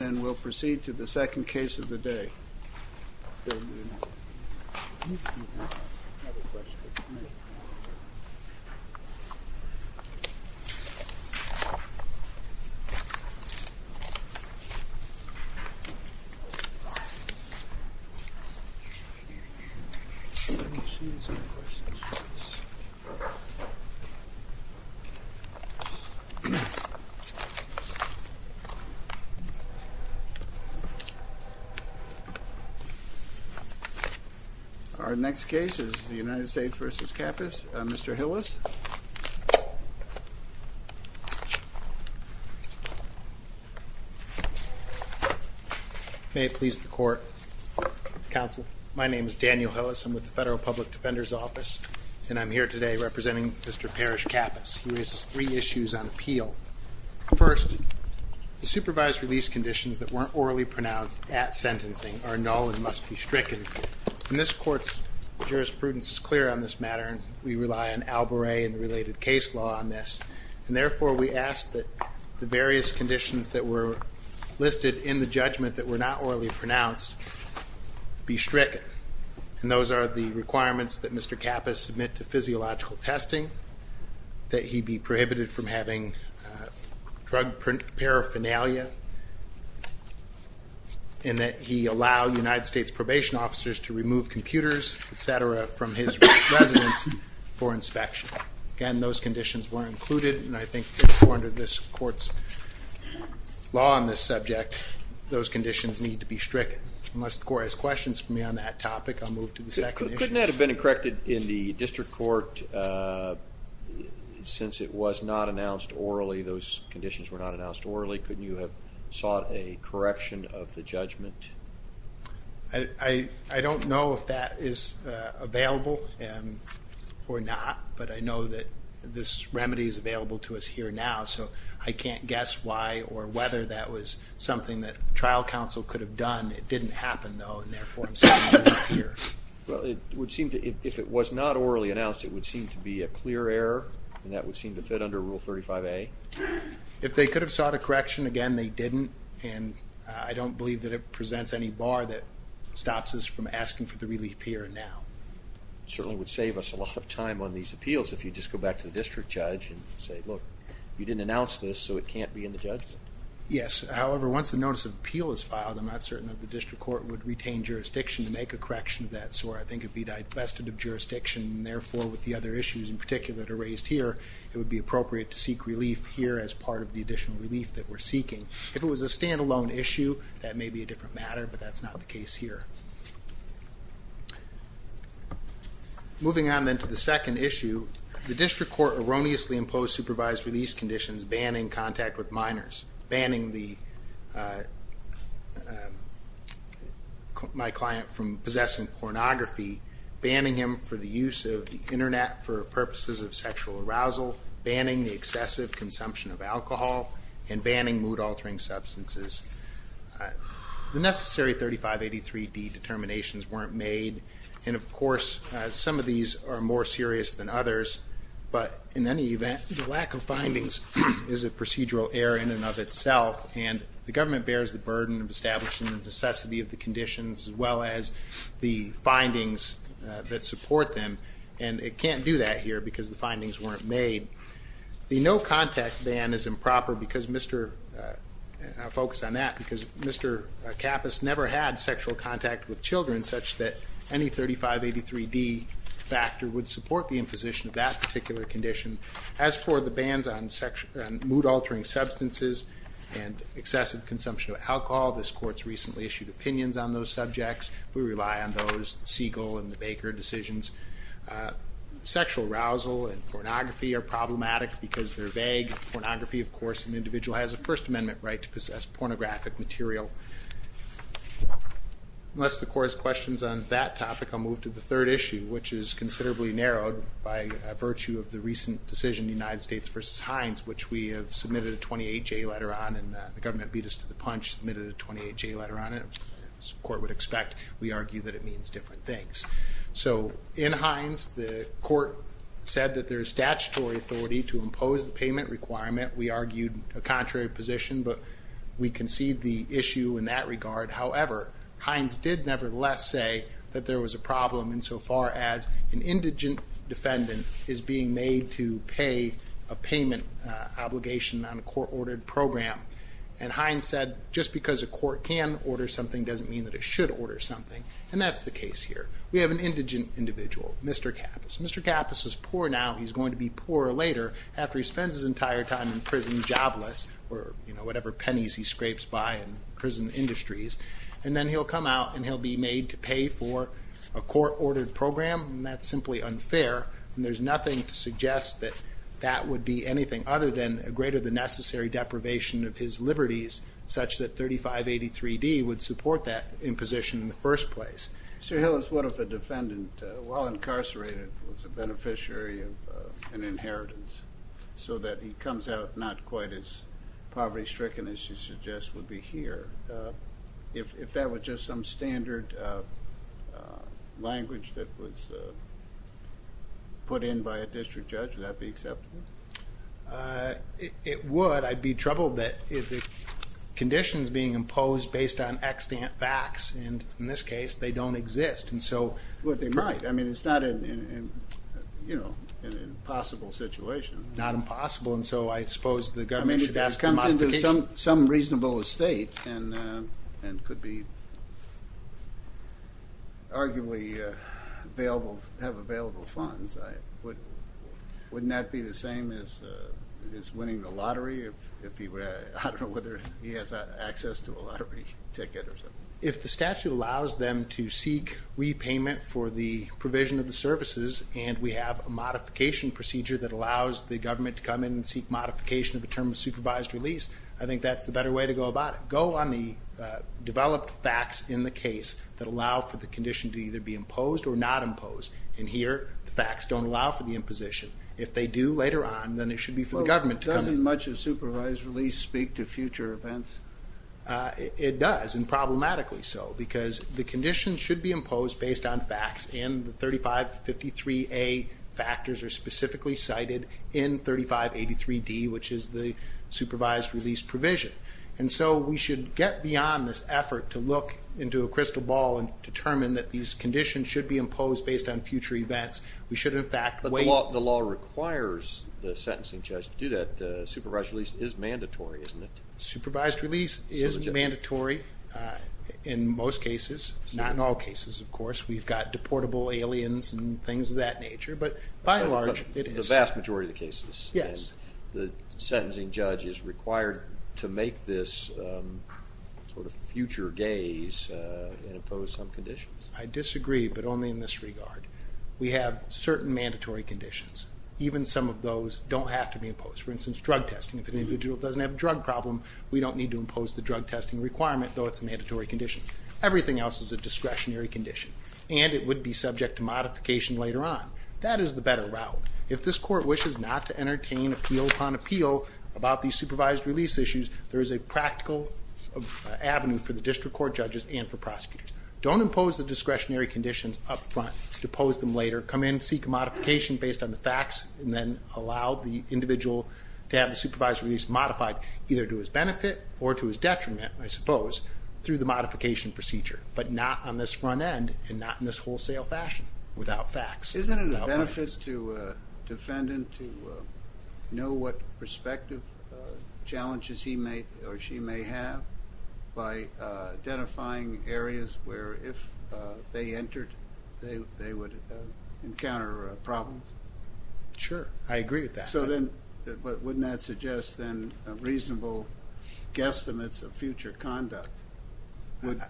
And we'll proceed to the second case of the day. Our next case is the United States v. Kappes. Mr. Hillis? May it please the Court. Counsel, my name is Daniel Hillis. I'm with the Federal Public Defender's Office and I'm here today representing Mr. Parrish Kappes. He raises three issues on appeal. First, the supervised release conditions that weren't orally pronounced at sentencing are null and must be stricken. And this Court's jurisprudence is clear on this matter and we rely on Alboret and the related case law on this. And therefore we ask that the various conditions that were listed in the judgment that were not orally pronounced be stricken. And those are the requirements that Mr. Kappes submit to physiological testing, that he be prohibited from having drug paraphernalia, and that he allow United States probation officers to remove computers, etc., from his residence for inspection. Again, those conditions were included and I think therefore under this Court's law on this subject those conditions need to be stricken. Unless the Court has questions for me on that topic, I'll move to the second issue. Couldn't that have been corrected in the judgment? Since it was not announced orally, those conditions were not announced orally, couldn't you have sought a correction of the judgment? I don't know if that is available or not, but I know that this remedy is available to us here now, so I can't guess why or whether that was something that trial counsel could have done. It didn't happen, though, and therefore I'm saying it isn't here. Well, it would seem to, if it was not orally announced, it would seem to be a clear error, and that would seem to fit under Rule 35a. If they could have sought a correction, again, they didn't, and I don't believe that it presents any bar that stops us from asking for the relief here and now. It certainly would save us a lot of time on these appeals if you just go back to the district judge and say, look, you didn't announce this, so it can't be in the judgment. Yes, however, once the notice of appeal is filed, I'm not certain that the district court would answer that, so I think it would be divested of jurisdiction, and therefore with the other issues in particular that are raised here, it would be appropriate to seek relief here as part of the additional relief that we're seeking. If it was a stand-alone issue, that may be a different matter, but that's not the case here. Moving on then to the second issue, the district court erroneously imposed supervised release conditions banning contact with minors, banning my client from possessing pornography, banning him for the use of the internet for purposes of sexual arousal, banning the excessive consumption of alcohol, and banning mood-altering substances. The necessary 3583D determinations weren't made, and of course, some of these are more serious than others, but in any event, the findings is a procedural error in and of itself, and the government bears the burden of establishing the necessity of the conditions, as well as the findings that support them, and it can't do that here because the findings weren't made. The no-contact ban is improper because Mr., I'll focus on that, because Mr. Kappas never had sexual contact with children such that any 3583D factor would support the imposition of that particular condition. As for the bans on mood-altering substances and excessive consumption of alcohol, this court's recently issued opinions on those subjects. We rely on those Siegel and the Baker decisions. Sexual arousal and pornography are problematic because they're vague. Pornography, of course, an individual has a First Amendment right to possess pornographic material. Unless the court has questions on that topic, I'll move to the third issue, which is considerably narrowed by virtue of the recent decision in the United States versus Hines, which we have submitted a 28-J letter on, and the government beat us to the punch, submitted a 28-J letter on it. As the court would expect, we argue that it means different things. So in Hines, the court said that there's statutory authority to impose the payment requirement. We argued a contrary position, but we concede the issue in that regard. However, Hines did nevertheless say that there was a problem insofar as an indigent defendant is being made to pay a payment obligation on a court-ordered program. And Hines said, just because a court can order something doesn't mean that it should order something, and that's the case here. We have an indigent individual, Mr. Kappes. Mr. Kappes is poor now. He's going to be poor later after he spends his entire time in prison jobless, or whatever pennies he scrapes by in prison industries, and then he'll come out and he'll be made to pay for a court-ordered program, and that's simply unfair, and there's nothing to suggest that that would be anything other than a greater-than-necessary deprivation of his liberties, such that 3583D would support that imposition in the first place. Sir Hillis, what if a defendant, while incarcerated, was a beneficiary of an inheritance, so that he comes out not quite as poverty-stricken as you suggest would be here? If that was just some standard language that was put in by a district judge, would that be acceptable? It would. I'd be troubled that if the conditions being imposed based on extant facts, and in this case they don't exist, and so... Well, they might. I mean, it's not an, you know, an impossible situation. Not impossible, and so I suppose the government should ask for modification. If he comes into some reasonable estate, and could be arguably available, have available funds, wouldn't that be the same as winning the lottery? I don't know whether he has access to a lottery ticket or something. If the statute allows them to seek repayment for the provision of the services, and we have a modification procedure that allows the supervised release, I think that's the better way to go about it. Go on the developed facts in the case that allow for the condition to either be imposed or not imposed. And here, the facts don't allow for the imposition. If they do later on, then it should be for the government to come... Well, doesn't much of supervised release speak to future events? It does, and problematically so, because the conditions should be imposed based on facts, and the 3553A factors are specifically cited in 3583D, which is the supervised release provision. And so we should get beyond this effort to look into a crystal ball and determine that these conditions should be imposed based on future events. We should, in fact, wait... But the law requires the sentencing judge to do that. Supervised release is mandatory, isn't it? Supervised release is mandatory in most cases, not in all cases, of course. We've got deportable aliens and things of that nature, but by and large, the vast majority of the cases. Yes. And the sentencing judge is required to make this sort of future gaze and impose some conditions. I disagree, but only in this regard. We have certain mandatory conditions. Even some of those don't have to be imposed. For instance, drug testing. If an individual doesn't have a drug problem, we don't need to impose the drug testing requirement, though it's a mandatory condition. Everything else is a discretionary condition, and it would be subject to modification later on. That is the better route. If this court wishes not to entertain appeal upon appeal about these supervised release issues, there is a practical avenue for the district court judges and for prosecutors. Don't impose the discretionary conditions up front. Depose them later. Come in, seek a modification based on the facts, and then allow the individual to have the supervised release modified, either to his benefit or to his detriment, I suppose, through the modification procedure, but not on this front and not in this wholesale fashion, without facts. Isn't it a benefit to a defendant to know what prospective challenges he may or she may have by identifying areas where if they entered, they would encounter a problem? Sure, I agree with that. So then, but wouldn't that suggest then reasonable guesstimates of future conduct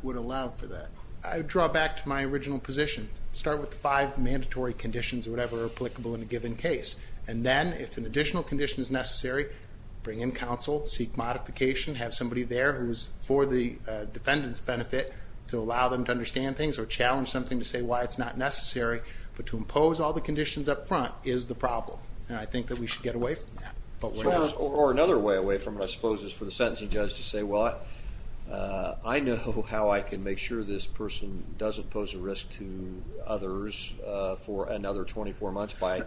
would allow for that? I draw back to my original position. Start with the five mandatory conditions or whatever are applicable in a given case, and then if an additional condition is necessary, bring in counsel, seek modification, have somebody there who's for the defendant's benefit to allow them to understand things or challenge something to say why it's not necessary, but to impose all the conditions up front is the problem, and I think that we should get away from that. Or another way away from it, I suppose, is for the sentencing judge to say, well, I know how I can make sure this person doesn't pose a risk to others for another 24 months by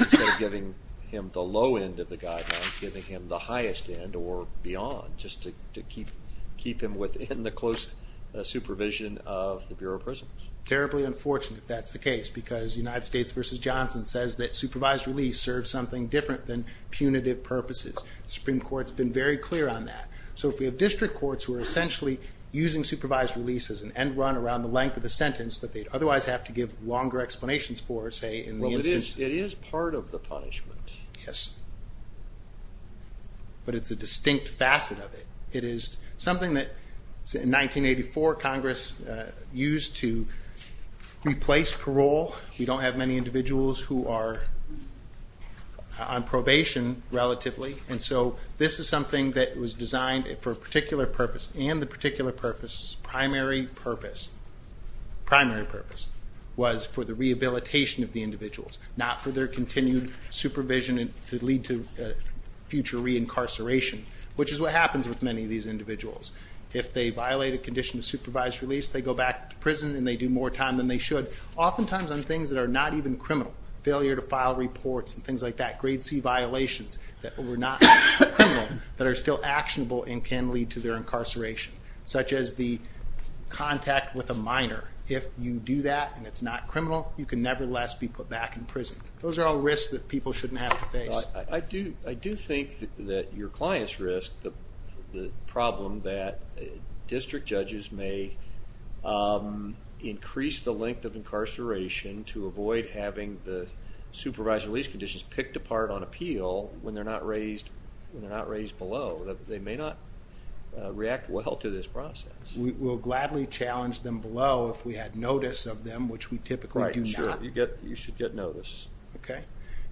instead of giving him the low end of the guideline, giving him the highest end or beyond, just to keep him within the close supervision of the Bureau of Prisons. Terribly unfortunate if that's the case, because United States v. Johnson says that supervised release serves something different than punitive purposes. The Supreme Court's been very clear on that. So if we have district courts who are essentially using supervised release as an end run around the length of the sentence that they'd otherwise have to give longer explanations for, say, in the instance... Well, it is part of the punishment. Yes, but it's a distinct facet of it. It is something that in 1984 Congress used to replace parole. We don't have many individuals who are on probation relatively, and so this is something that was designed for a particular purpose, and the particular purpose's primary purpose was for the rehabilitation of the individuals, not for their continued supervision to lead to future reincarceration, which is what happens with many of these individuals. If they violate a condition of supervised release, they go back to prison and they do more time than they should, oftentimes on things that are not even criminal, failure to file reports and things like that, grade C violations that were not criminal that are still actionable and can lead to their incarceration, such as the contact with a minor. If you do that and it's not criminal, you can nevertheless be put back in prison. Those are all risks that people shouldn't have to face. I do think that your client's risk, the problem that incarceration to avoid having the supervised release conditions picked apart on appeal when they're not raised below, they may not react well to this process. We'll gladly challenge them below if we had notice of them, which we typically do not. You should get notice.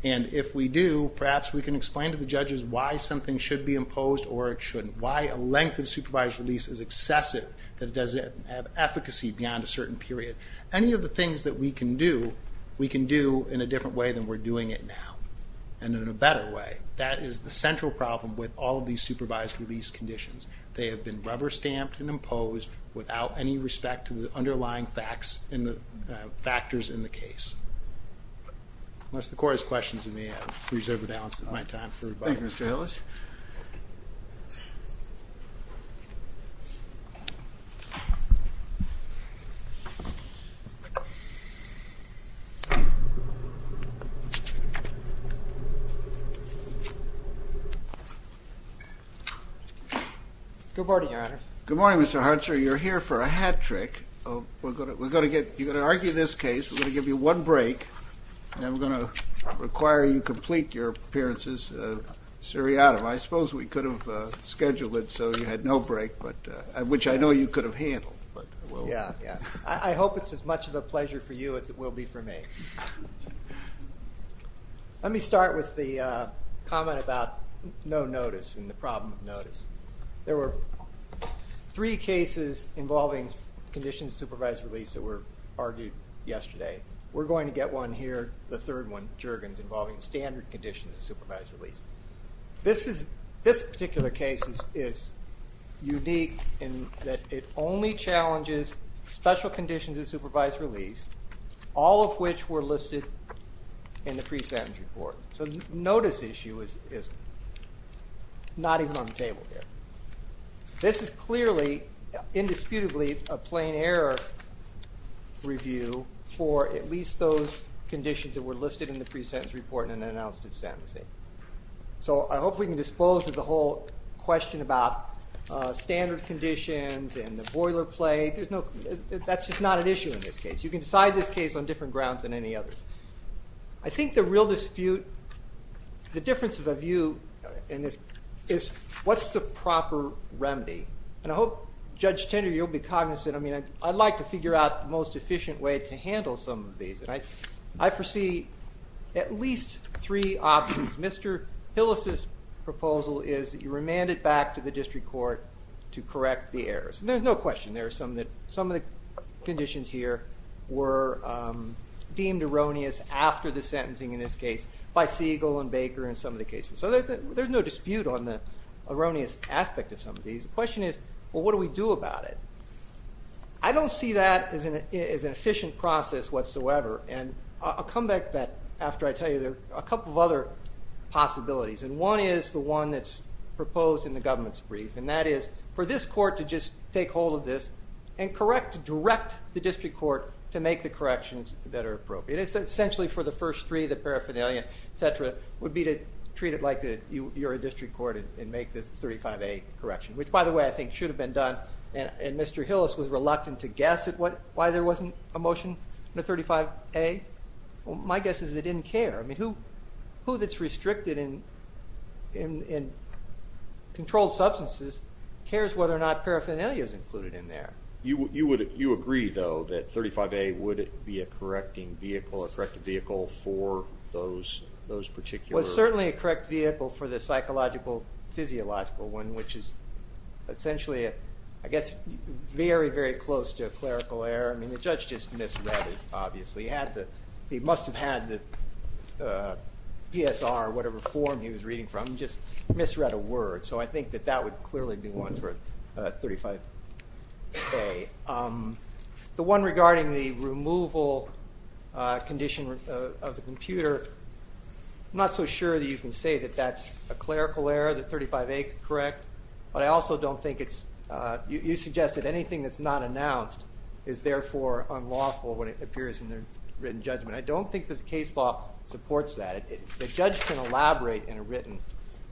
And if we do, perhaps we can explain to the judges why something should be imposed or it shouldn't, why a length of supervised release is excessive, that it doesn't have efficacy beyond a certain period. Any of the things that we can do, we can do in a different way than we're doing it now, and in a better way. That is the central problem with all of these supervised release conditions. They have been rubber stamped and imposed without any respect to the underlying facts and the factors in the case. Unless the court has questions, I'll freeze over the balance of my time. Thank you, Mr. Hillis. Good morning, Your Honor. Good morning, Mr. Hunter. You're here for a hat trick. We're going to get, you're going to argue this case, we're going to give you one break, and we're going to require you complete your appearances seriatim. I suppose we could have scheduled it so you had no break, which I know you could have handled. I hope it's as much of a pleasure for you as it will be for me. Let me start with the comment about no notice and the problem of notice. There were three cases involving conditions of supervised release that were argued yesterday. We're going to get one here, the third one, Juergens, involving standard conditions of supervised release. This particular case is unique in that it only challenges special conditions of supervised release, all of which were listed in the pre-sentence report. So the notice issue is not even on the a plain error review for at least those conditions that were listed in the pre-sentence report and announced at sentencing. So I hope we can dispose of the whole question about standard conditions and the boilerplate. There's no, that's just not an issue in this case. You can decide this case on different grounds than any others. I think the real dispute, the difference of a view in this is what's the proper remedy? And I hope Judge Tinder, you'll be cognizant. I'd like to figure out the most efficient way to handle some of these. I foresee at least three options. Mr. Hillis's proposal is that you remand it back to the district court to correct the errors. There's no question. Some of the conditions here were deemed erroneous after the sentencing in this case by Siegel and Baker and some of the cases. So there's no dispute on the erroneous aspect of some of these. The question is, well, what do we do about it? I don't see that as an efficient process whatsoever. And I'll come back to that after I tell you there are a couple of other possibilities. And one is the one that's proposed in the government's brief. And that is for this court to just take hold of this and correct, direct the district court to make the corrections that are appropriate. It's essentially for the first three, the paraphernalia, et cetera, would be to treat it like you're a district court and make the 35A correction, which by the way, I think should have been done. And Mr. Hillis was reluctant to guess at why there wasn't a motion in the 35A. My guess is they didn't care. I mean, who that's restricted in controlled substances cares whether or not paraphernalia is included in there. You agree, though, that 35A would be a correcting vehicle, a corrective vehicle, for those particular... Well, it's certainly a correct vehicle for the psychological, physiological one, which is essentially, I guess, very, very close to a clerical error. I mean, the judge just misread it, obviously. He must have had the PSR or whatever form he was reading from, just misread a word. So I think that that would clearly be one for 35A. The one regarding the removal condition of the computer, I'm not so sure that you can say that that's a clerical error, the 35A correct, but I also don't think it's... You suggested anything that's not announced is therefore unlawful when it appears in the written judgment. I don't think the case law supports that. The judge can elaborate in a written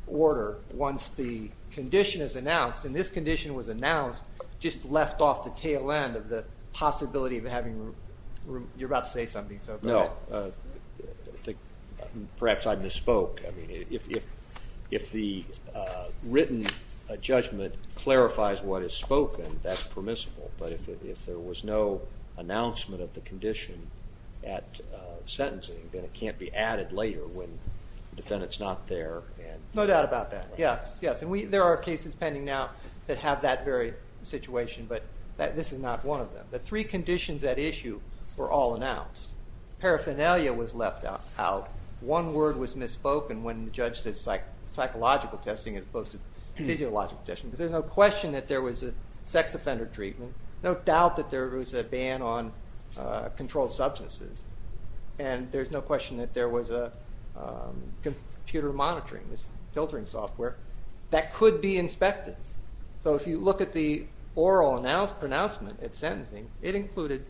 order once the condition is announced, and this condition was announced just left off the tail end of the possibility of having... You're about to say something, so go ahead. No. Perhaps I misspoke. I mean, if the written judgment clarifies what is spoken, that's permissible, but if there was no announcement of the condition at sentencing, then it can't be added later when the defendant's not there and... No doubt about that, yes. Yes, and there are cases pending now that have that very situation, but this is not one of them. The three conditions at issue were all announced. Paraphernalia was left out. One word was misspoken when the judge said psychological testing as opposed to physiological testing, but there's no question that there was a sex offender treatment, no doubt that there was a ban on controlled substances, and there's no question that there was a computer monitoring, this filtering software that could be inspected. So if you look at the oral announcement at sentencing, it included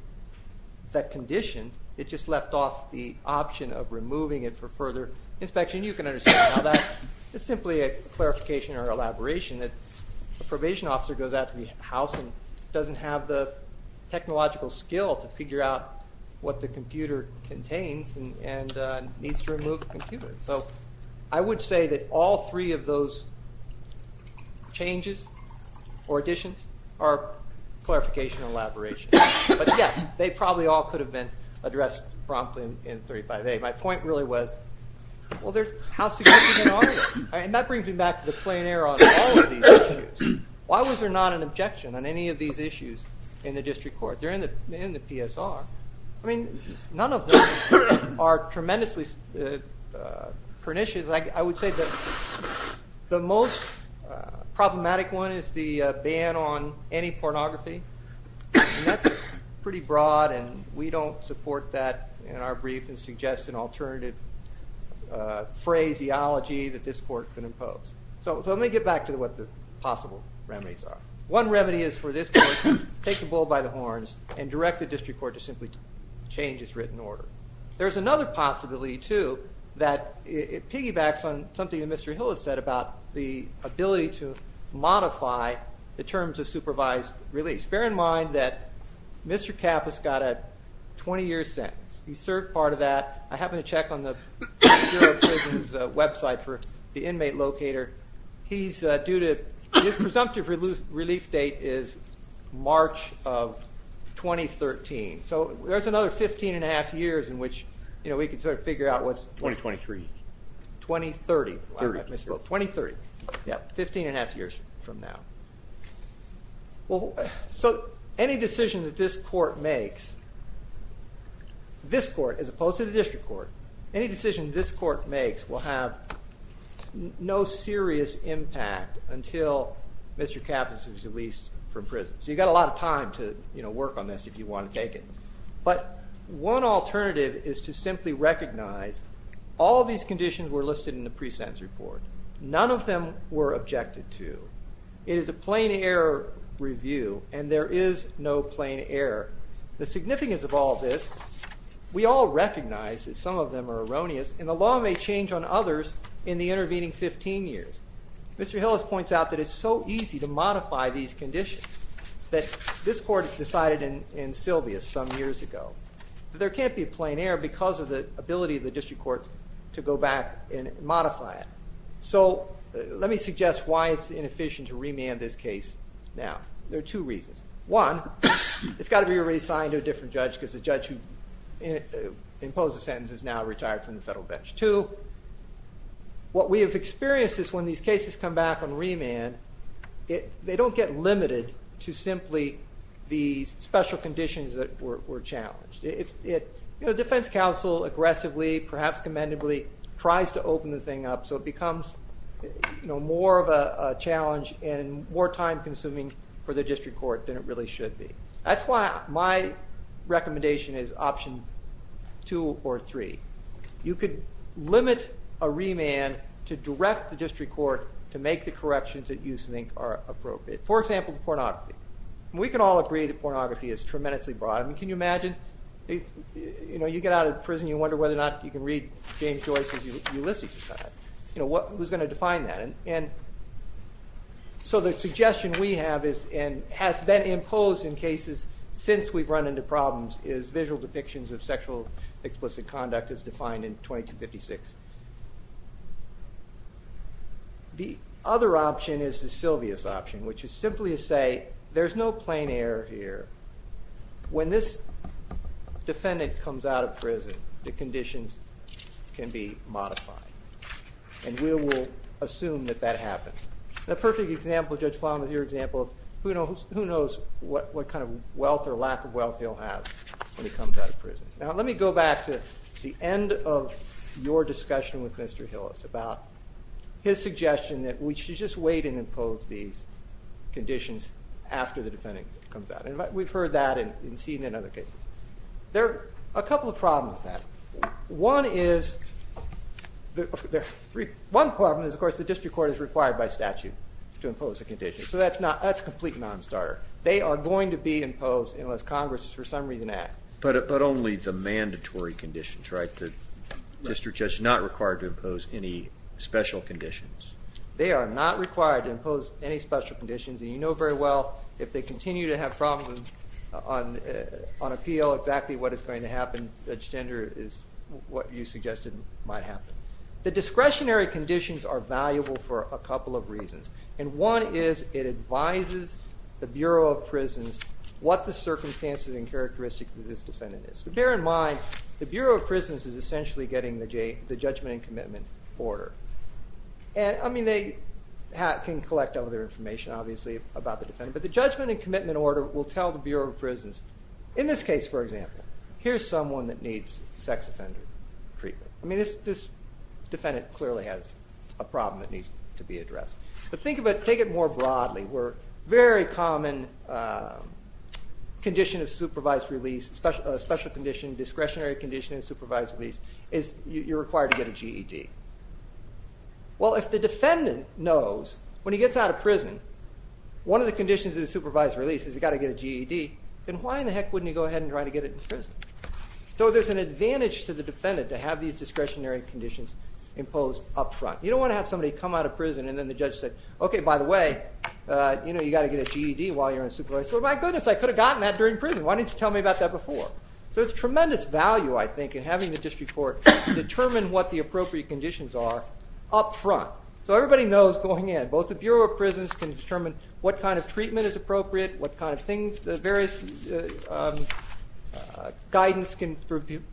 that condition. It just left off the option of removing it for further inspection. You can understand how that... It's simply a clarification or elaboration that a probation officer goes out to the house and doesn't have the technological skill to figure out what the computer contains and needs to remove the computer. So I would say that all three of those changes or additions are clarification or elaboration. But yes, they probably all could have been addressed promptly in 35A. My point really was, well, how significant are they? And that brings me back to the plein air on all of these issues. Why was there not an objection on any of these issues in the district court? They're in the PSR. I mean, none of them are tremendously pernicious. I would say that the most problematic one is the ban on any pornography, and that's pretty broad, and we don't support that in our brief and suggest an alternative phraseology that this court can impose. So let me get back to what the possible remedies are. One remedy is for this case, take the bull by the horns and direct the district court to simply change its written order. There's another possibility, too, that it piggybacks on something that Mr. Hill has said about the ability to modify the terms of supervised release. Bear in mind that Mr. Kappas got a 20-year sentence. He served part of that. I happen to check on the Bureau of Prisons website for the inmate locator. His presumptive relief date is March of 2013. So there's another 15 and a half years in which we could sort of figure out what's... 2023. 2030. 2030. 2030. Yeah, 15 and a half years from now. So any decision that this court makes, this court as opposed to the district court, any decision this court makes will have no serious impact until Mr. Kappas is released from prison. So you've got a lot of time to work on this if you want to take it. But one alternative is to simply recognize all these conditions were listed in the pre-sentence report. None of them were objected to. It is a plain error review and there is no plain error. The significance of all this, we all recognize that some of them are erroneous and the law may change on others in the intervening 15 years. Mr. Hill has pointed out that it's so easy to modify these conditions that this court decided in Sylvia some years ago. There can't be a plain error because of the ability of the district court to go back and modify it. So let me suggest why it's inefficient to remand this case now. There are two reasons. One, it's got to be reassigned to a different judge because the judge who imposed the sentence is now retired from the federal bench. Two, what we have experienced is when these cases come back on remand, they don't get limited to simply the special conditions that were challenged. Defense counsel aggressively, perhaps commendably, tries to open the thing up so it becomes more of a challenge and more time consuming for the district court than it really should be. That's why my recommendation is option two or three. You could limit a remand to direct the district court to make the corrections that you think are appropriate. For example, pornography. We can all agree that pornography is tremendously broad. Can you imagine, you get out of jail and you wonder whether or not you can read James Joyce's Ulysses. Who's going to define that? So the suggestion we have and has been imposed in cases since we've run into problems is visual depictions of sexual explicit conduct as defined in 2256. The other option is the Sylvia's option, which is simply to say there's no plain error here. When this happens, the conditions can be modified. And we will assume that that happens. The perfect example, Judge Flanagan, is your example of who knows what kind of wealth or lack of wealth he'll have when he comes out of prison. Now let me go back to the end of your discussion with Mr. Hillis about his suggestion that we should just wait and impose these conditions after the defendant comes out. We've heard that and seen it in other cases. There are a couple of problems with that. One problem is, of course, the district court is required by statute to impose a condition. So that's a complete non-starter. They are going to be imposed unless Congress for some reason acts. But only the mandatory conditions, right? The district judge is not required to impose any special conditions. And you know very well if they continue to have problems on appeal, exactly what is going to happen, Judge Gender, is what you suggested might happen. The discretionary conditions are valuable for a couple of reasons. And one is it advises the Bureau of Prisons what the circumstances and characteristics of this defendant is. So bear in mind, the Bureau of Prisons is essentially getting the information, obviously, about the defendant. But the judgment and commitment order will tell the Bureau of Prisons, in this case for example, here's someone that needs sex offender treatment. I mean this defendant clearly has a problem that needs to be addressed. But think of it more broadly where very common condition of supervised release, special condition, discretionary condition of supervised release, is you're required to get a GED. Well, if the defendant knows when he gets out of prison, one of the conditions of the supervised release is he's got to get a GED, then why in the heck wouldn't he go ahead and try to get it in prison? So there's an advantage to the defendant to have these discretionary conditions imposed up front. You don't want to have somebody come out of prison and then the judge says, okay, by the way, you know, you've got to get a GED while you're in supervised. Well, my goodness, I could have gotten that during So it's tremendous value, I think, in having the district court determine what the appropriate conditions are up front. So everybody knows going in, both the Bureau of Prisons can determine what kind of treatment is appropriate, what kind of things, the various guidance can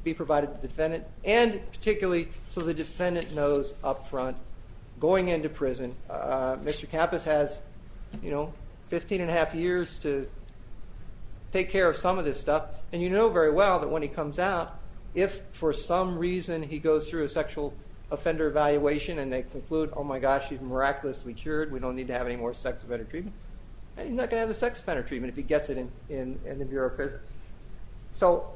be provided to the defendant, and particularly so the defendant knows up front going into prison. Mr. Campos has, you know, 15 and a half years to take care of some of this stuff, and you know very well that when he comes out, if for some reason he goes through a sexual offender evaluation and they conclude, oh my gosh, he's miraculously cured, we don't need to have any more sex offender treatment, he's not going to have the sex offender treatment if he gets it in the Bureau of Prisons. So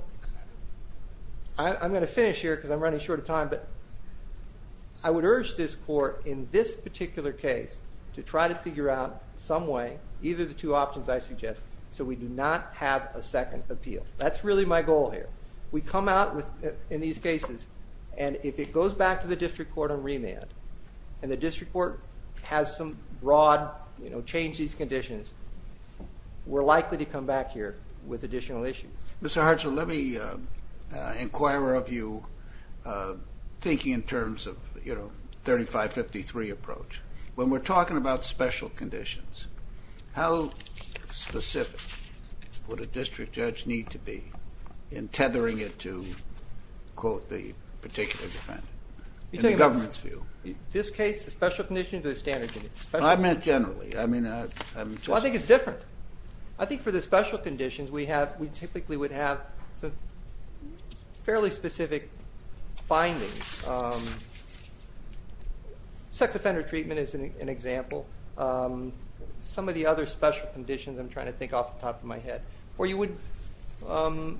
I'm going to finish here because I'm running short of time, but I would suggest so we do not have a second appeal. That's really my goal here. We come out in these cases, and if it goes back to the district court on remand, and the district court has some broad, you know, change these conditions, we're likely to come back here with additional issues. Mr. Hartzell, let me inquire of you, thinking in terms of, you know, 3553 approach. When we're talking about special conditions, how specific would a district judge need to be in tethering it to, quote, the particular defendant, in the government's view? In this case, the special conditions or the standard conditions? I meant generally. I think it's different. I think for the special conditions we typically would have some fairly specific findings. Sex offender treatment is an example. Some of the other special conditions I'm trying to think off the top of my head. Or you would, you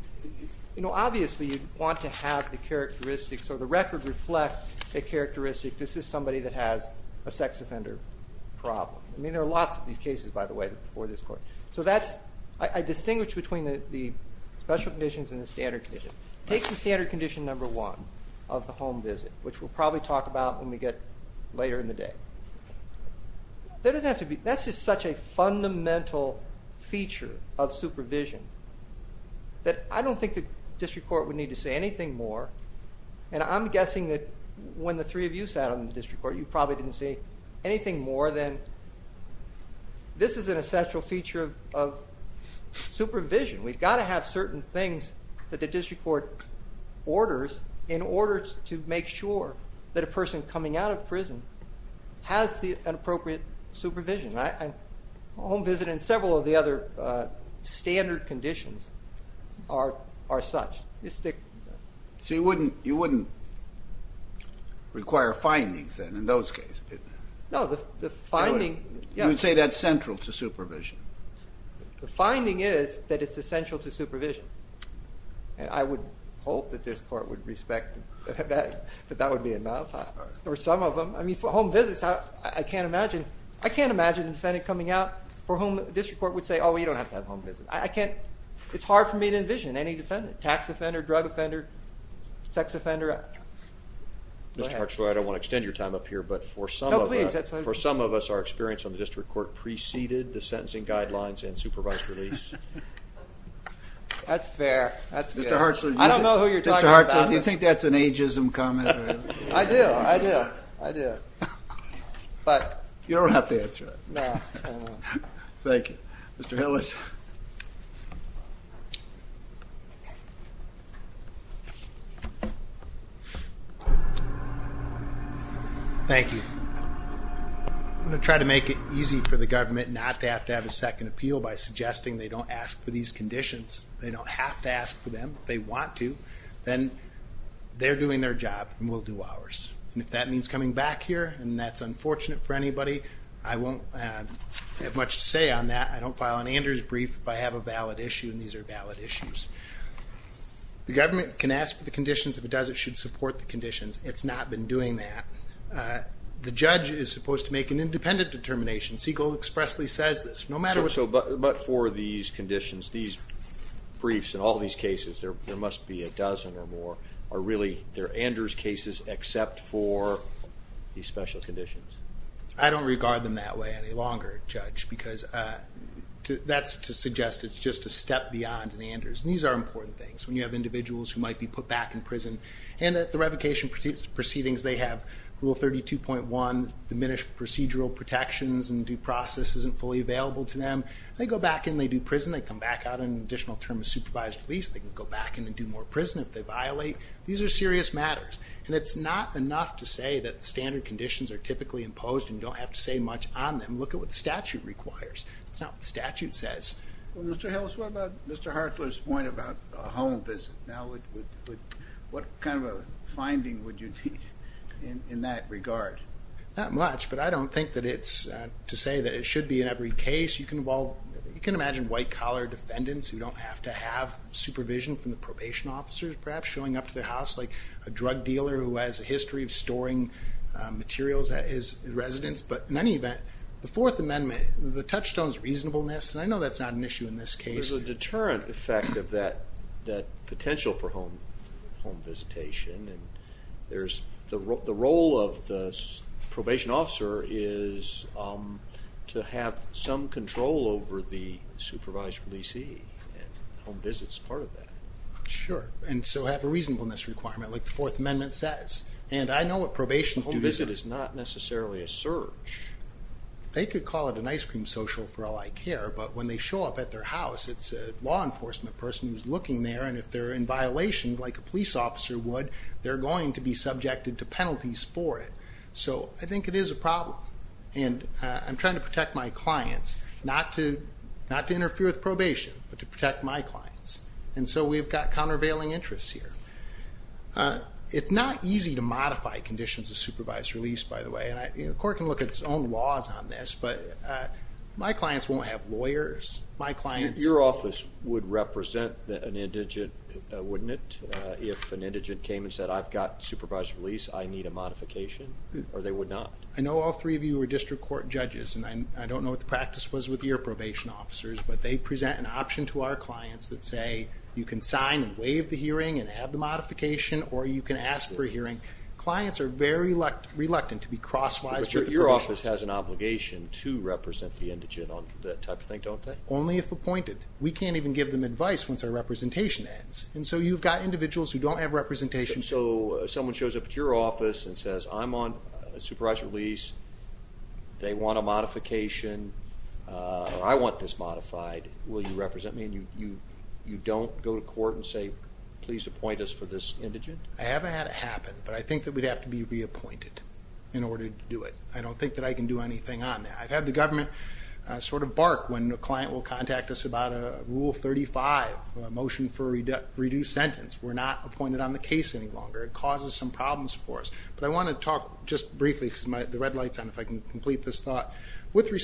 know, obviously you'd want to have the characteristics or the record reflect a characteristic, this is somebody that has a sex offender problem. I mean, there are lots of these cases, by the way, before this court. So that's, I distinguish between the special conditions and the standard conditions. Take the standard condition number one of the home visit, which we'll probably talk about when we get later in the day. That's just such a fundamental feature of supervision that I don't think the district court would need to say anything more, and I'm guessing that when the three of you sat on the district court, you probably didn't say anything more than this is an essential feature of supervision. We've got to have certain things that the district court orders in order to make sure that a person coming out of prison has an appropriate supervision. Home visit and several of the other standard conditions are such. So you wouldn't require findings then in those cases? No, the finding... You would say that's central to supervision. The finding is that it's essential to supervision. And I would hope that this court would respect that that would be enough. Or some of them. I mean, for home visits, I can't imagine a defendant coming out for whom the district court would say, oh, you don't have to have a home visit. It's hard for me to envision any defendant, tax offender, drug offender, sex offender. Mr. Hartslow, I don't want to extend your time up here, but for some of us... No, please. ...you have preceded the sentencing guidelines and supervised release. That's fair. That's fair. Mr. Hartslow, do you think that's an ageism comment? I do. I do. I do. You don't have to answer it. No. Thank you. Mr. Hillis. Thank you. I'm going to try to make it easy for the government not to have to have a second appeal by suggesting they don't ask for these conditions. They don't have to ask for them. If they want to, then they're doing their job and we'll do ours. And if that means coming back here and that's unfortunate for anybody, I won't have much to say on that. I don't file an Anders brief if I have a valid issue and these are valid issues. The government can ask for the conditions. If it does, it should support the conditions. It's not been doing that. The judge is supposed to make an independent determination. Siegel expressly says this. But for these conditions, these briefs and all these cases, there must be a dozen or more, are really, they're Anders cases except for these special conditions. I don't regard them that way any longer, Judge, because that's to suggest it's just a step beyond an Anders. And these are important things when you have individuals who might be put back in prison and at the revocation proceedings they have Rule 32.1, diminished procedural protections and due process isn't fully available to them. They go back and they do prison. They come back out on an additional term of supervised release. They can go back in and do more prison if they violate. These are serious matters. And it's not enough to say that the standard conditions are typically imposed and you don't have to say much on them. Look at what the statute requires. That's not what the statute says. Well, Mr. Hillis, what about Mr. Hartler's point about a home visit? What kind of a finding would you need in that regard? Not much, but I don't think that it's to say that it should be in every case. You can imagine white-collar defendants who don't have to have supervision from the probation officers, perhaps, showing up to their house like a drug dealer who has a history of storing materials at his residence. But in any event, the Fourth Amendment, the touchstone is reasonableness. And I know that's not an issue in this case. There's a deterrent effect of that potential for home visitation. And the role of the probation officer is to have some control over the supervised releasee, and home visit's part of that. Sure, and so have a reasonableness requirement like the Fourth Amendment says. And I know what probation is doing. Home visit is not necessarily a search. They could call it an ice cream social for all I care, but when they show up at their house, it's a law enforcement person who's looking there, and if they're in violation, like a police officer would, they're going to be subjected to penalties for it. So I think it is a problem. And I'm trying to protect my clients, not to interfere with probation, but to protect my clients. And so we've got countervailing interests here. It's not easy to modify conditions of supervised release, by the way. And the court can look at its own laws on this, but my clients won't have lawyers. Your office would represent an indigent, wouldn't it, if an indigent came and said, I've got supervised release, I need a modification, or they would not? I know all three of you are district court judges, and I don't know what the practice was with your probation officers, but they present an option to our clients that say you can sign and waive the hearing and have the modification, or you can ask for a hearing. Clients are very reluctant to be cross-wise with the probation officer. But your office has an obligation to represent the indigent on that type of thing, don't they? Only if appointed. We can't even give them advice once our representation ends. And so you've got individuals who don't have representation. So if someone shows up at your office and says, I'm on a supervised release, they want a modification, or I want this modified, will you represent me? And you don't go to court and say, please appoint us for this indigent? I haven't had it happen, but I think that we'd have to be reappointed in order to do it. I don't think that I can do anything on that. I've had the government sort of bark when a client will contact us about a Rule 35, a motion for a reduced sentence. We're not appointed on the case any longer. It causes some problems for us. But I want to talk just briefly, because the red light's on, if I can complete this thought. hearing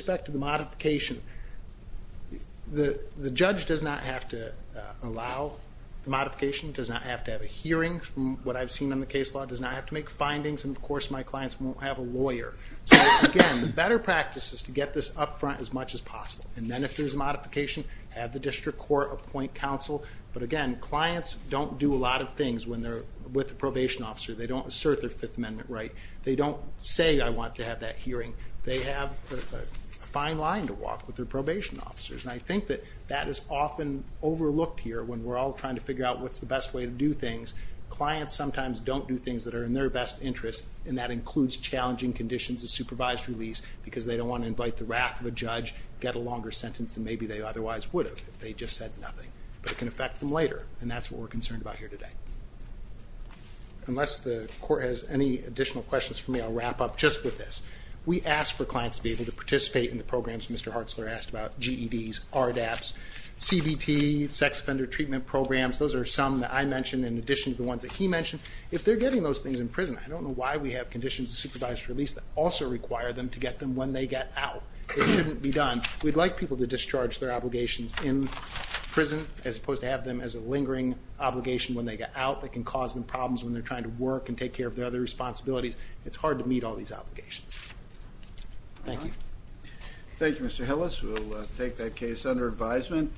from what I've seen in the case law, does not have to make findings, and of course my clients won't have a lawyer. So again, the better practice is to get this up front as much as possible. And then if there's a modification, have the district court appoint counsel. But again, clients don't do a lot of things when they're with a probation officer. They don't assert their Fifth Amendment right. They don't say, I want to have that hearing. They have a fine line to walk with their probation officers. And I think that that is often overlooked here when we're all trying to figure out what's the best way to do things. Clients sometimes don't do things that are in their best interest, and that includes challenging conditions of supervised release because they don't want to invite the wrath of a judge, get a longer sentence than maybe they otherwise would have if they just said nothing. But it can affect them later, and that's what we're concerned about here today. Unless the court has any additional questions for me, I'll wrap up just with this. We ask for clients to be able to participate in the programs Mr. Hartzler asked about, GEDs, RDAPs, CBT, sex offender treatment programs. Those are some that I mentioned in addition to the ones that he mentioned. If they're getting those things in prison, I don't know why we have conditions of supervised release that also require them to get them when they get out. It shouldn't be done. We'd like people to discharge their obligations in prison as opposed to have them as a lingering obligation when they get out that can cause them problems when they're trying to work and take care of their other responsibilities. It's hard to meet all these obligations. Thank you. Thank you, Mr. Hillis. We'll take that case under advisement.